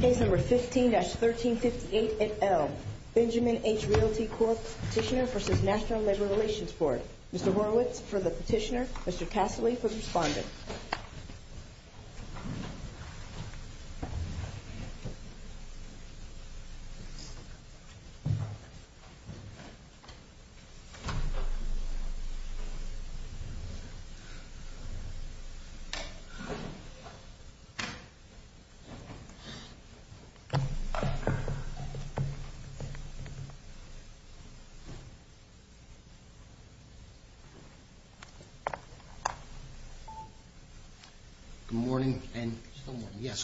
Case No. 15-1358NL. Benjamin H. Realty Corp. Petitioner v. National Labor Relations Board. Mr. Horowitz for the petitioner. Mr. Cassily for the respondent.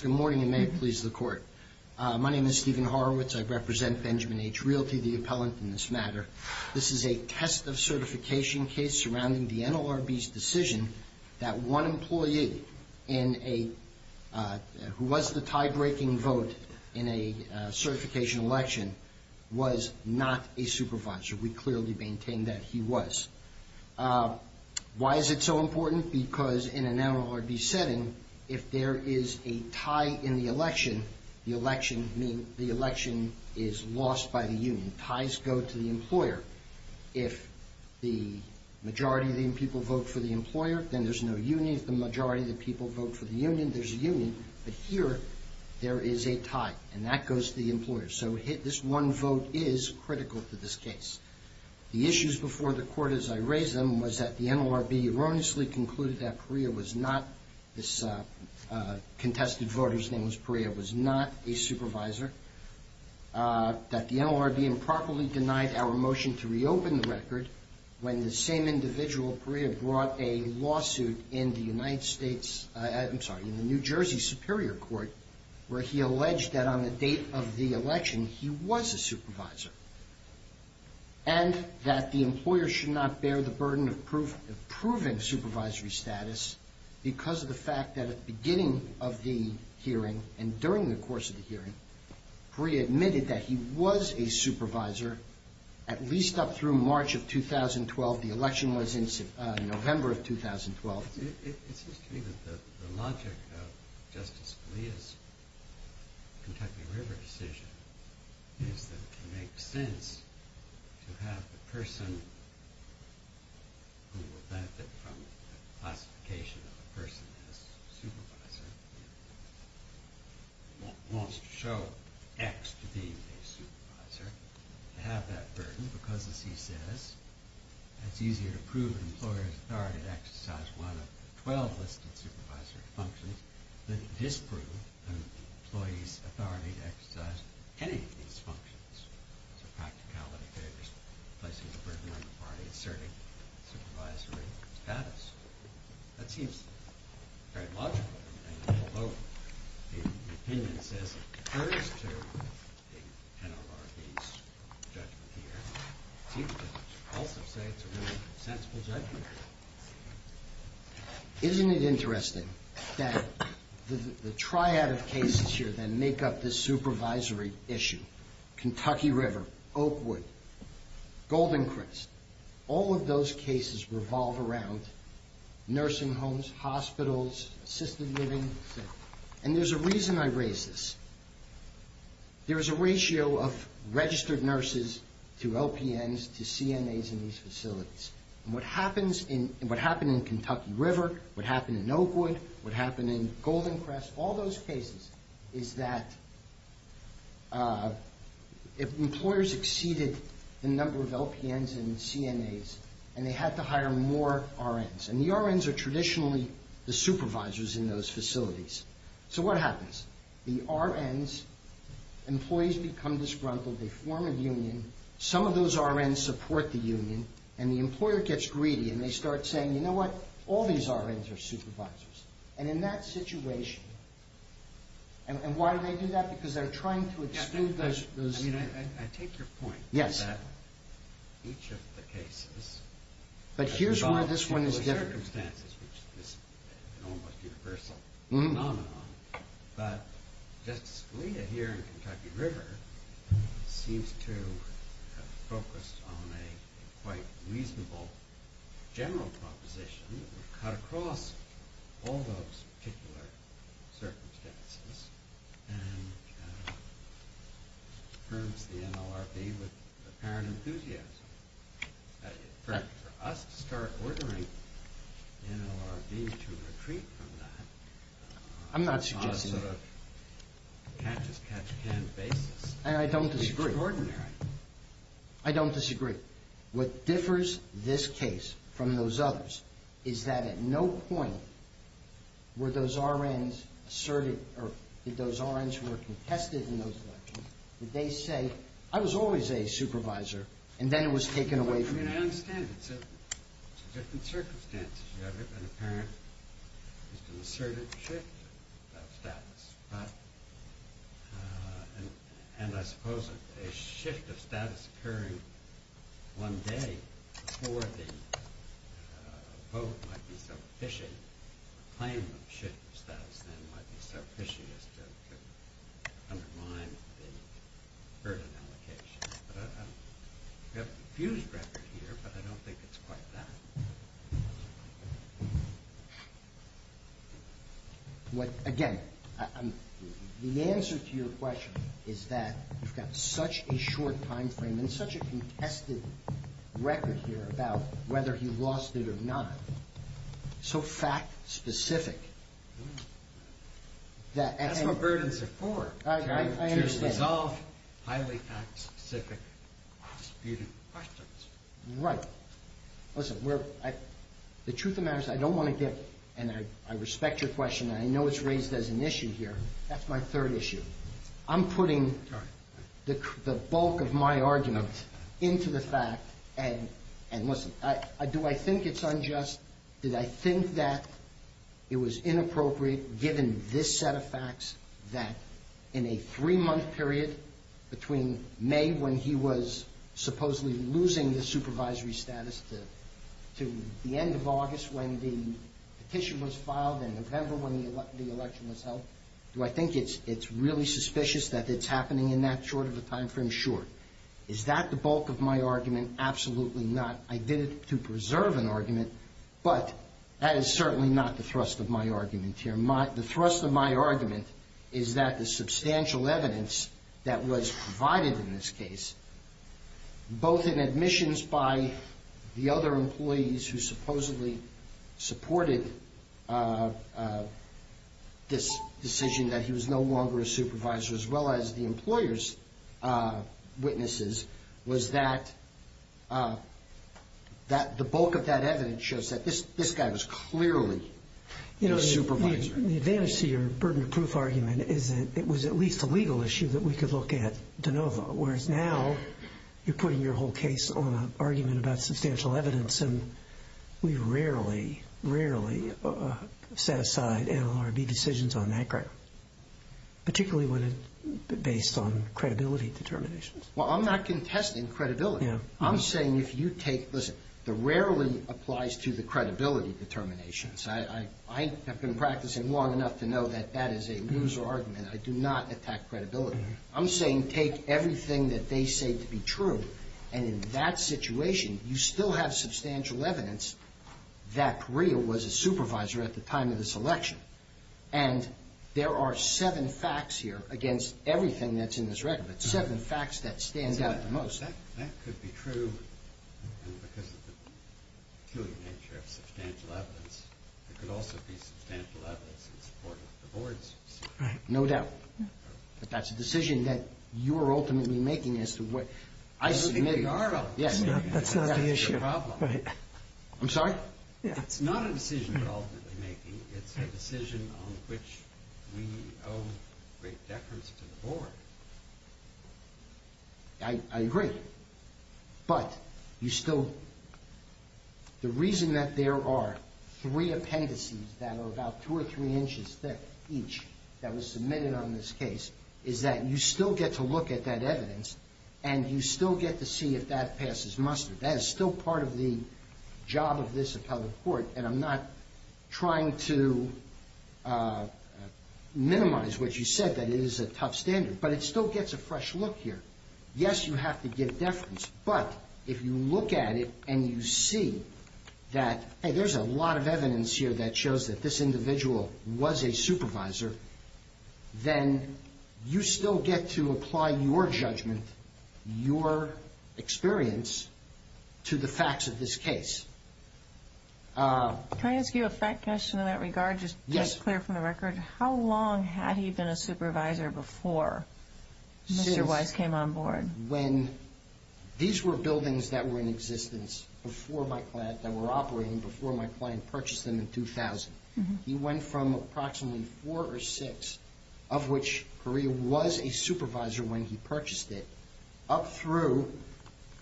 Good morning and may it please the Court. My name is Stephen Horowitz. I represent Benjamin H. Realty, the appellant in this matter. This is a test of certification case surrounding the NLRB's decision that one employee who was the tie-breaking vote in a certification election was not a supervisor. We clearly maintain that he was. Why is it so important? Because in an NLRB setting, if there is a tie in the election, the election is lost by the union. Ties go to the employer. If the majority of the people vote for the employer, then there's no union. If the majority of the people vote for the union, there's a union. But here, there is a tie, and that goes to the employer. So this one vote is critical to this case. The issues before the Court as I raised them was that the NLRB erroneously concluded that Perea was not this contested voter's name was Perea, was not a supervisor, that the NLRB improperly denied our motion to reopen the record when the same individual, Perea, brought a lawsuit in the United States, I'm sorry, in the New Jersey Superior Court where he alleged that on the date of the election, he was a supervisor, and that the employer should not bear the burden of proving supervisory status because of the fact that at the beginning of the hearing and during the course of the hearing, Perea admitted that he was a supervisor at least up through March of 2012. The election was in November of 2012. It seems to me that the logic of Justice Scalia's Kentucky River decision is that it makes sense to have the person who will benefit from the classification of a person as a supervisor wants to show X to be a supervisor to have that burden because, as he says, it's easier to prove an employer's authority to exercise one of the 12 listed supervisory functions than disprove an employee's authority to exercise any of these functions. It's a practicality. They're just placing a burden on the party, asserting supervisory status. That seems very logical to me, although the opinion says it refers to the NLRB's judgment here. It seems to also say it's a really sensible judgment here. Isn't it interesting that the triad of cases here that make up this supervisory issue, Kentucky River, Oakwood, Golden Crest, all of those cases revolve around nursing homes, hospitals, assisted living. And there's a reason I raise this. There's a ratio of registered nurses to LPNs to CNAs in these facilities. What happened in Kentucky River, what happened in Oakwood, what happened in Golden Crest, all those cases is that employers exceeded the number of LPNs and CNAs and they had to hire more RNs. And the RNs are traditionally the supervisors in those facilities. So what happens? The RNs, employees become disgruntled, they form a union, some of those RNs support the union, and the employer gets greedy and they start saying, you know what, all these RNs are supervisors. And in that situation... And why do they do that? Because they're trying to exclude those... I take your point that each of the cases... But here's where this one is different. ...circumstances, which is an almost universal phenomenon, but Justice Scalia, here in Kentucky River, seems to have focused on a quite reasonable general proposition that would cut across all those particular circumstances and firms the NLRB with apparent enthusiasm. For us to start ordering NLRB to retreat from that... I'm not suggesting that. ...on a sort of catch-as-catch-can basis... And I don't disagree. ...is extraordinary. I don't disagree. What differs this case from those others is that at no point were those RNs asserted, or did those RNs who were contested in those elections, did they say, I was always a supervisor, and then it was taken away from me? I mean, I understand. It's a different circumstance. You have an apparent, just an assertive shift of status. But, and I suppose a shift of status occurring one day before the vote might be sufficient, a claim of shift of status then might be sufficient to undermine the burden allocation. We have a fused record here, but I don't think it's quite that. Again, the answer to your question is that you've got such a short timeframe and such a contested record here about whether he lost it or not. So fact-specific. That's what burdens are for. I understand. To resolve highly fact-specific disputed questions. Right. Listen, the truth of the matter is I don't want to get, and I respect your question, and I know it's raised as an issue here. That's my third issue. I'm putting the bulk of my argument into the fact, and listen, do I think it's unjust? Did I think that it was inappropriate given this set of facts that in a three-month period between May when he was supposedly losing the supervisory status to the end of August when the petition was filed and November when the election was held, do I think it's really suspicious that it's happening in that short of a timeframe? Sure. Is that the bulk of my argument? Absolutely not. I did it to preserve an argument, but that is certainly not the thrust of my argument here. The thrust of my argument is that the substantial evidence that was provided in this case, both in admissions by the other employees who supposedly supported this decision that he was no longer a supervisor as well as the employer's witnesses, was that the bulk of that evidence shows that this guy was clearly a supervisor. The advantage to your burden of proof argument is that it was at least a legal issue that we could look at de novo, whereas now you're putting your whole case on an argument about substantial evidence, and we rarely, rarely set aside NLRB decisions on that ground, particularly when it's based on credibility determinations. Well, I'm not contesting credibility. I'm saying if you take, listen, the rarely applies to the credibility determinations. I have been practicing long enough to know that that is a loser argument. I do not attack credibility. I'm saying take everything that they say to be true, and in that situation, you still have substantial evidence that real was a supervisor at the time of this election, and there are seven facts here against everything that's in this record, but seven facts that stand out the most. That could be true, and because of the peculiar nature of substantial evidence, there could also be substantial evidence in support of the board's decision. No doubt. But that's a decision that you are ultimately making as to what... That's not the issue. I'm sorry? It's not a decision you're ultimately making. It's a decision on which we owe great deference to the board. I agree, but you still... The reason that there are three appendices that are about two or three inches thick each that was submitted on this case is that you still get to look at that evidence, and you still get to see if that passes muster. That is still part of the job of this appellate court, and I'm not trying to minimize what you said, that it is a tough standard, but it still gets a fresh look here. Yes, you have to give deference, but if you look at it and you see that, hey, there's a lot of evidence here that shows that this individual was a supervisor, then you still get to apply your judgment, your experience, to the facts of this case. Can I ask you a fact question in that regard, just clear from the record? How long had he been a supervisor before Mr. Weiss came on board? When these were buildings that were in existence before my client, that were operating before my client purchased them in 2000. He went from approximately four or six of which Korea was a supervisor when he purchased it up through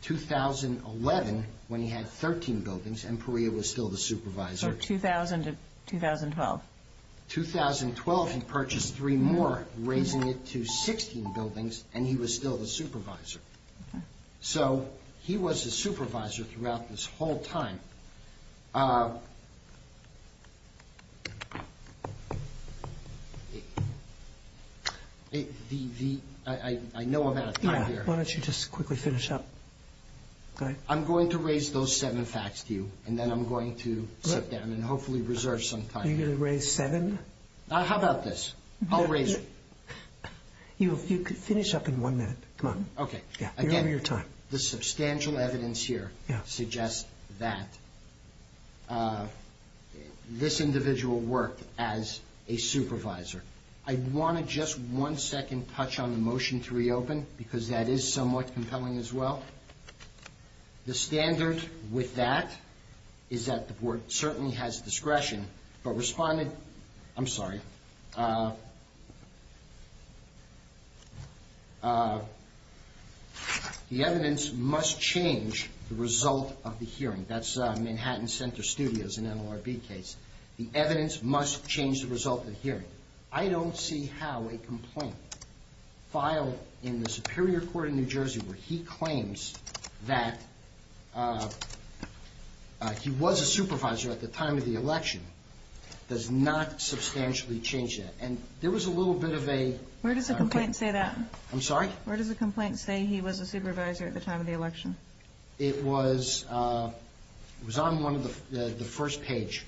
2011 when he had 13 buildings and Korea was still the supervisor. So 2000 to 2012. 2012 he purchased three more, raising it to 16 buildings and he was still the supervisor. So he was a supervisor throughout this whole time. I know I'm out of time here. Why don't you just quickly finish up? I'm going to raise those seven facts to you and then I'm going to sit down and hopefully reserve some time. You're going to raise seven? How about this? I'll raise it. You could finish up in one minute. Okay. Again, the substantial evidence here suggests that Mr. Weiss was a supervisor and this individual worked as a supervisor. I want to just one second touch on the motion to reopen because that is somewhat compelling as well. The standard with that is that the board certainly has discretion but responded, I'm sorry, the evidence must change the result of the hearing. That's Manhattan Center Studios in NLRB case. The evidence must change the result of the hearing. I don't see how a complaint filed in the Superior Court in New Jersey where he claims that he was a supervisor at the time of the election does not substantially change that. And there was a little bit of a... Where does the complaint say that? I'm sorry? Where does the complaint say he was a supervisor at the time of the election? It was... It was on one of the first page.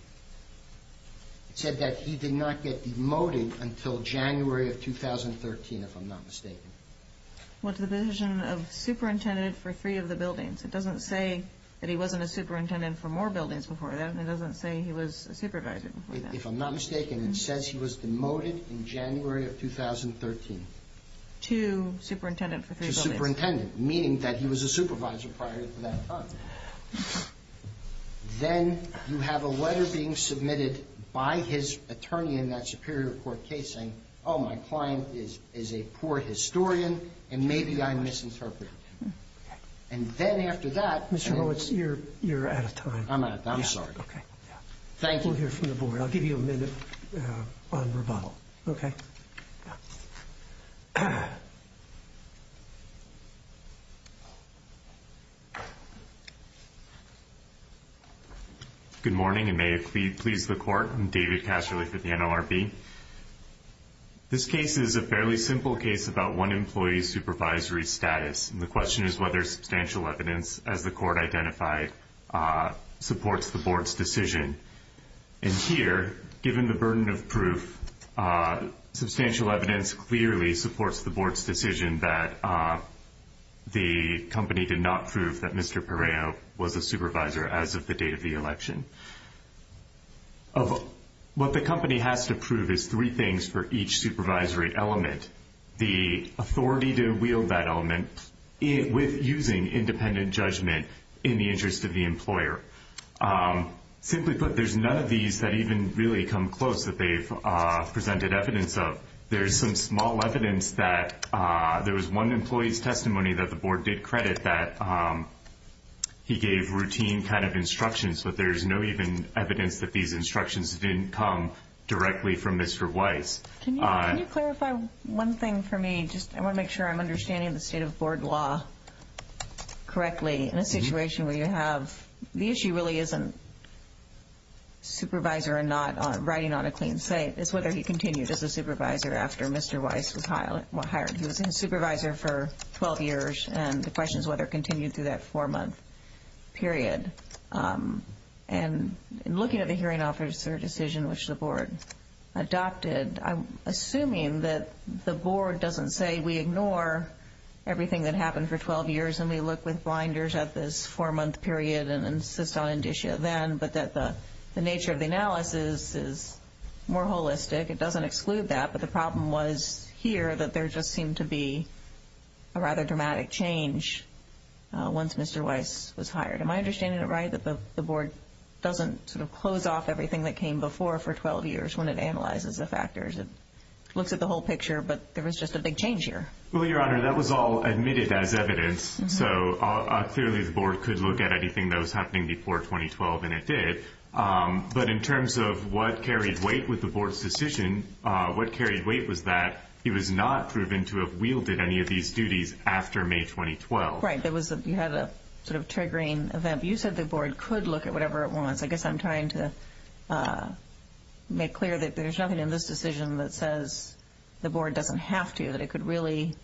It said that he did not get demoted until January of 2013, if I'm not mistaken. What's the position of superintendent for three of the buildings? It doesn't say that he wasn't a superintendent for more buildings before that. It doesn't say he was a supervisor before that. If I'm not mistaken, it says he was demoted in January of 2013. To superintendent for three buildings. To superintendent, meaning that he was a supervisor prior to that time. Then you have a letter being submitted by his attorney in that Superior Court case saying, oh, my client is a poor historian and maybe I misinterpreted him. And then after that... Mr. Horwitz, you're out of time. I'm sorry. Okay. Thank you. We'll hear from the board. I'll give you a minute on rebuttal. Okay? Thank you. Good morning and may it please the court. I'm David Casserly for the NLRB. This case is a fairly simple case about one employee's supervisory status. And the question is whether substantial evidence, as the court identified, supports the board's decision. And here, given the burden of proof, substantial evidence clearly supports the board's decision that the company did not prove that Mr. Pereo was a supervisor as of the date of the election. What the company has to prove is three things for each supervisory element. The authority to wield that element with using independent judgment in the interest of the employer. Simply put, there's none of these that even really come close that they've presented evidence of. There's some small evidence that there was one employee's testimony that the board did credit that he gave routine kind of instructions but there's no even evidence that these instructions didn't come directly from Mr. Weiss. Can you clarify one thing for me? I want to make sure I'm understanding the state of board law correctly. In a situation where you have the issue really isn't supervisor or not riding on a clean slate. It's whether he continued as a supervisor after Mr. Weiss was hired. He was a supervisor for 12 years and the question is whether it continued through that 4-month period. Looking at the hearing officer decision which the board adopted I'm assuming that the board doesn't say we ignore everything that happened for 12 years and we look with blinders at this 4-month period and insist on indicia then but that the nature of the analysis is more holistic it doesn't exclude that but the problem was here that there just seemed to be a rather dramatic change once Mr. Weiss was hired. Am I understanding it right that the board doesn't close off everything that came before for 12 years when it analyzes the factors it looks at the whole picture but there was just a big change here. That was all admitted as evidence so clearly the board could look at anything that was happening before 2012 and it did but in terms of what carried weight with the board's decision it was not proven to have wielded any of these duties after May 2012. You said the board could look at whatever it wants I guess I'm trying to make clear that there's nothing in this decision that says the board doesn't have to that it could really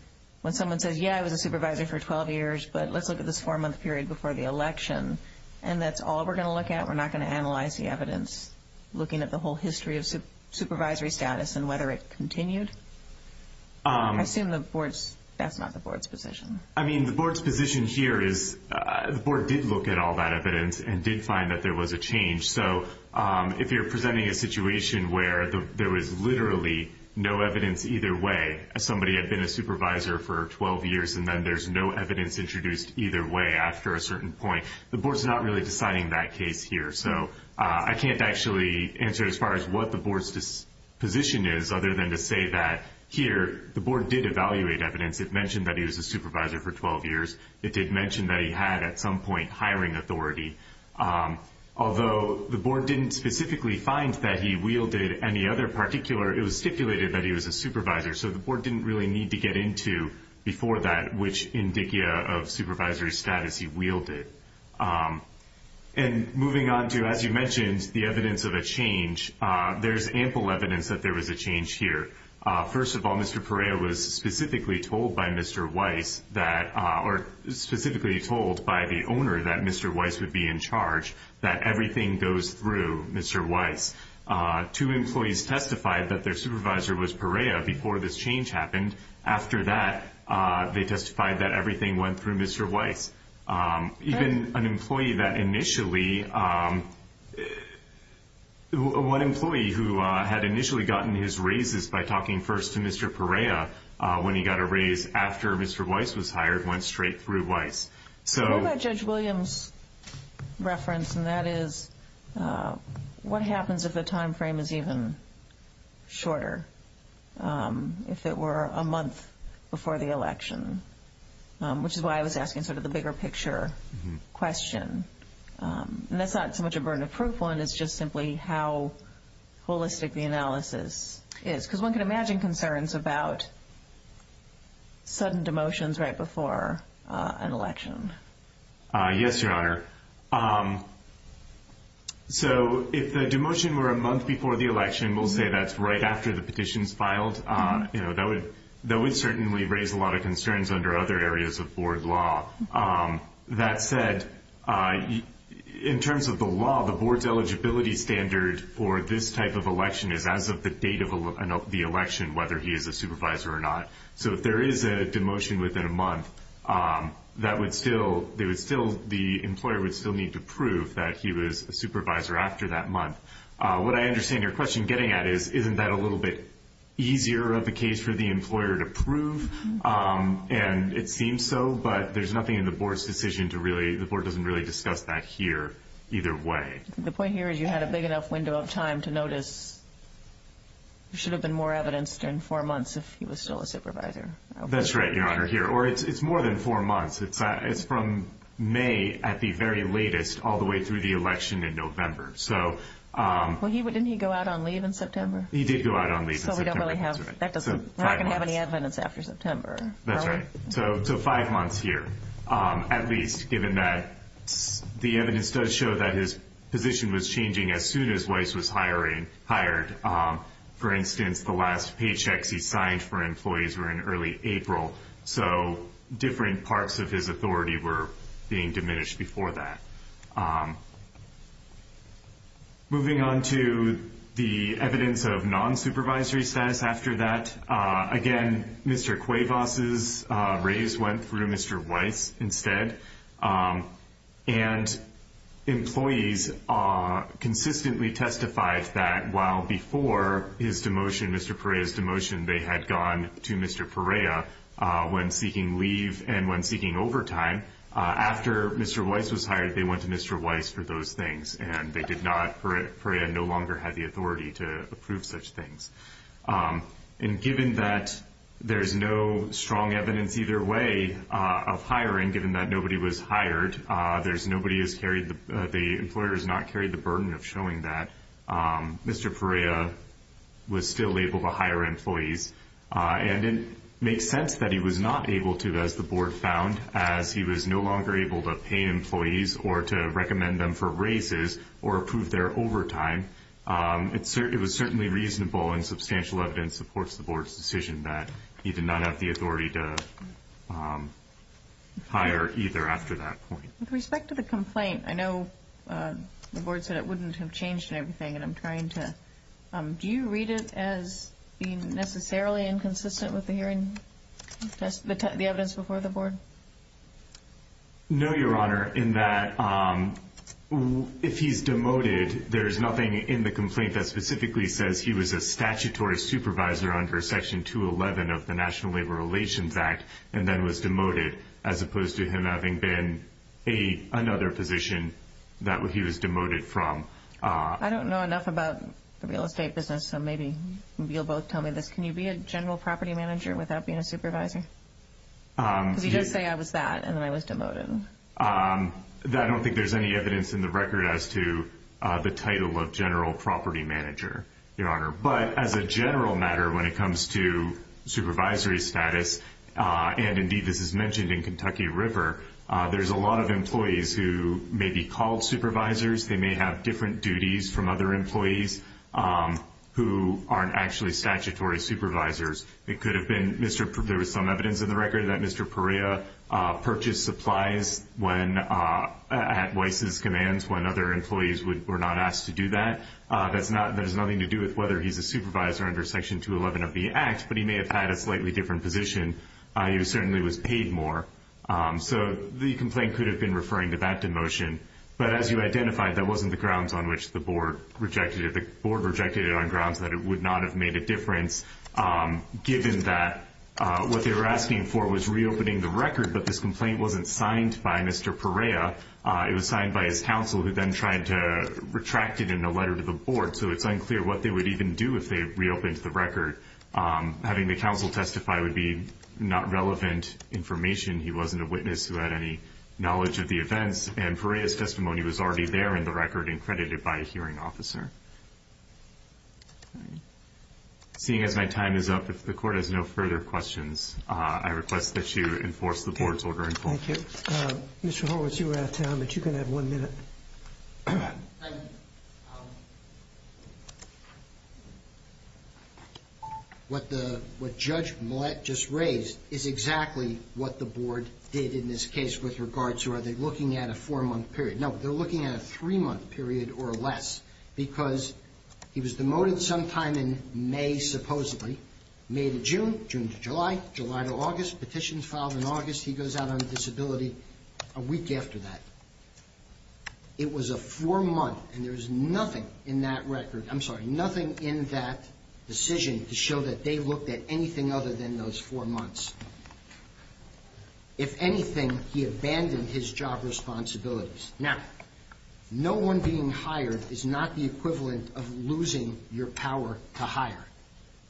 when someone says yeah I was a supervisor for 12 years but let's look at this 4-month period before the election and that's all we're going to look at we're not going to analyze the evidence looking at the whole history of supervisory status and whether it continued I assume the board's that's not the board's position I mean the board's position here is the board did look at all that evidence and did find that there was a change so if you're presenting a situation where there was literally no evidence either way somebody had been a supervisor for 12 years and then there's no evidence introduced either way after a certain point the board's not really deciding that case here so I can't actually answer as far as what the board's position is other than to say that here the board did evaluate evidence it mentioned that he was a supervisor for 12 years it did mention that he had at some point hiring authority although the board didn't specifically find that he wielded any other particular it was stipulated that he was a supervisor so the board didn't really need to get into before that which indicia of supervisory status he wielded and moving on to as you mentioned the evidence of a change there's ample evidence that there was a change here first of all Mr. Perea was specifically told by Mr. Weiss that or specifically told by the owner that Mr. Weiss would be in charge that everything goes through Mr. Weiss two employees testified that their supervisor was Perea before this change happened after that they testified that everything went through Mr. Weiss even an employee that initially one employee who had initially gotten his raises by talking first to Mr. Perea when he got a raise after Mr. Weiss was hired went straight through Weiss so what about Judge Williams reference and that is what happens if the time frame is even shorter if it were a month before the election which is why I was asking sort of the bigger picture question and that's not so much a burden of proof one is just simply how holistic the analysis is because one can imagine concerns about sudden demotions right before an election yes your honor so if the demotion were a month before the election we'll say that's right after the petitions filed that would certainly raise a lot of concerns under other areas of board law that said in terms of the law the boards eligibility standard for this type of election is as of the date of the election whether he is a supervisor or not so if there is a demotion within a month that would still the employer would still need to prove that he was a supervisor after that month what I understand your question getting at is isn't that a little bit easier of a case for the employer to prove and it seems so but there's nothing in the board's decision to really the board doesn't really discuss that here either way the point here is you had a big enough window of time to notice there should have been more evidence in four months if he was still a supervisor that's right your honor here or it's more than four months it's from May at the very latest all the way through the election in November didn't he go out on leave in September he did go out on leave that doesn't have any evidence after September so five months here at least given that the evidence does show that his position was changing as soon as Weiss was hired for instance the last paychecks he signed for employees were in early April so different parts of his position was being diminished before that moving on to the evidence of non-supervisory status after that again Mr. Cuevas' raise went through Mr. Weiss instead and employees consistently testified that while before his demotion Mr. Perea's demotion they had gone to Mr. Perea when seeking leave and when seeking overtime after Mr. Weiss was hired they went to Mr. Weiss for those things and they did not, Perea no longer had the authority to approve such things and given that there's no strong evidence either way of hiring given that nobody was hired there's nobody has carried the employer has not carried the burden of showing that Mr. Perea was still able to hire employees and it makes sense that he was not able to as the board found as he was no longer able to pay employees or to recommend them for raises or approve their overtime it was certainly reasonable and substantial evidence supports the board's decision that he did not have the authority to hire either after that point. With respect to the complaint I know the board said it wouldn't have changed and everything and I'm trying to, do you read it as being necessarily inconsistent with the hearing the evidence before the board? No your honor in that if he's demoted there's nothing in the complaint that specifically says he was a statutory supervisor under section 211 of the National Labor Relations Act and then was demoted as opposed to him having been another position that he was demoted from. I don't know enough about the real estate business so maybe you'll both tell me this, can you be a general property manager without being a supervisor? Because you did say I was that and then I was demoted I don't think there's any evidence in the record as to the title of general property manager your honor, but as a general matter when it comes to supervisory status and indeed this is mentioned in Kentucky River there's a lot of employees who may be called supervisors, they may have different duties from other employees who aren't actually statutory supervisors it could have been, there was some evidence in the record that Mr. Perea purchased supplies at Weiss's commands when other employees were not asked to do that that has nothing to do with whether he's a supervisor under section 211 of the act, but he may have had a slightly different position, he certainly was paid more, so the complaint could have been referring to that demotion but as you identified that wasn't the grounds on which the board rejected it on grounds that it would not have made a difference, given that what they were asking for was reopening the record, but this complaint wasn't signed by Mr. Perea it was signed by his counsel who then tried to retract it in a letter to the board, so it's unclear what they would even do if they reopened the record having the counsel testify would be not relevant information he wasn't a witness who had any knowledge of the events, and Perea's testimony was already there in the record and credited by a hearing officer seeing as my time is up, if the court has no further questions, I request that you enforce the board's order Mr. Horowitz, you were out of time but you can have one minute what Judge Millett just raised is exactly what the board did in this case with regards to looking at a four month period no, they're looking at a three month period or less because he was demoted sometime in May, supposedly May to June, June to July July to August, petitions filed in August, he goes out on disability a week after that it was a four month and there was nothing in that record I'm sorry, nothing in that decision to show that they looked at anything other than those four months if anything he abandoned his job responsibilities, now no one being hired is not the equivalent of losing your power to hire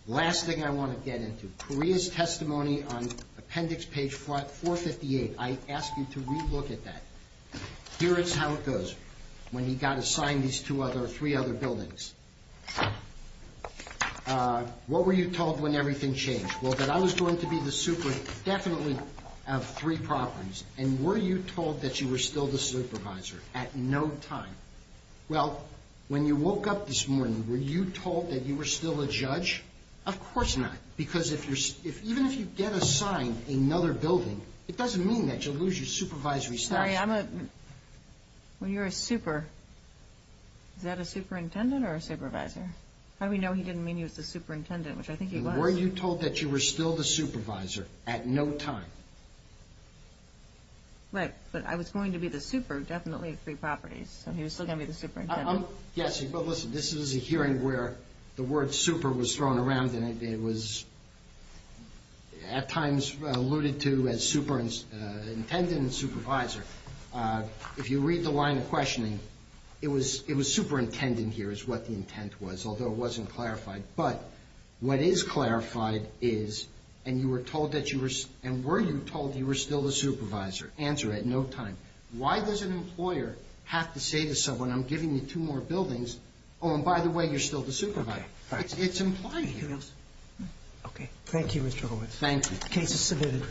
last thing I want to get into, Perea's testimony on appendix page 458, I ask you to re-look at that here is how it goes, when he got assigned these three other buildings what were you told when everything well that I was going to be the superintendent definitely of three properties and were you told that you were still the supervisor at no time well when you woke up this morning, were you told that you were still a judge of course not, because even if you get assigned another building it doesn't mean that you lose your supervisory status when you're a super is that a superintendent or a supervisor how do we know he didn't mean he was the superintendent, which I think he was were you told that you were still the supervisor at no time right, but I was going to be the super definitely of three properties so he was still going to be the superintendent yes, but listen, this is a hearing where the word super was thrown around and it was at times alluded to as superintendent and supervisor if you read the line of questioning it was superintendent here is what the intent was although it wasn't clarified but what is clarified is and you were told that you were and were you told you were still the supervisor answer at no time why does an employer have to say to someone I'm giving you two more buildings oh and by the way you're still the supervisor it's implied thank you Mr. Horowitz the case is submitted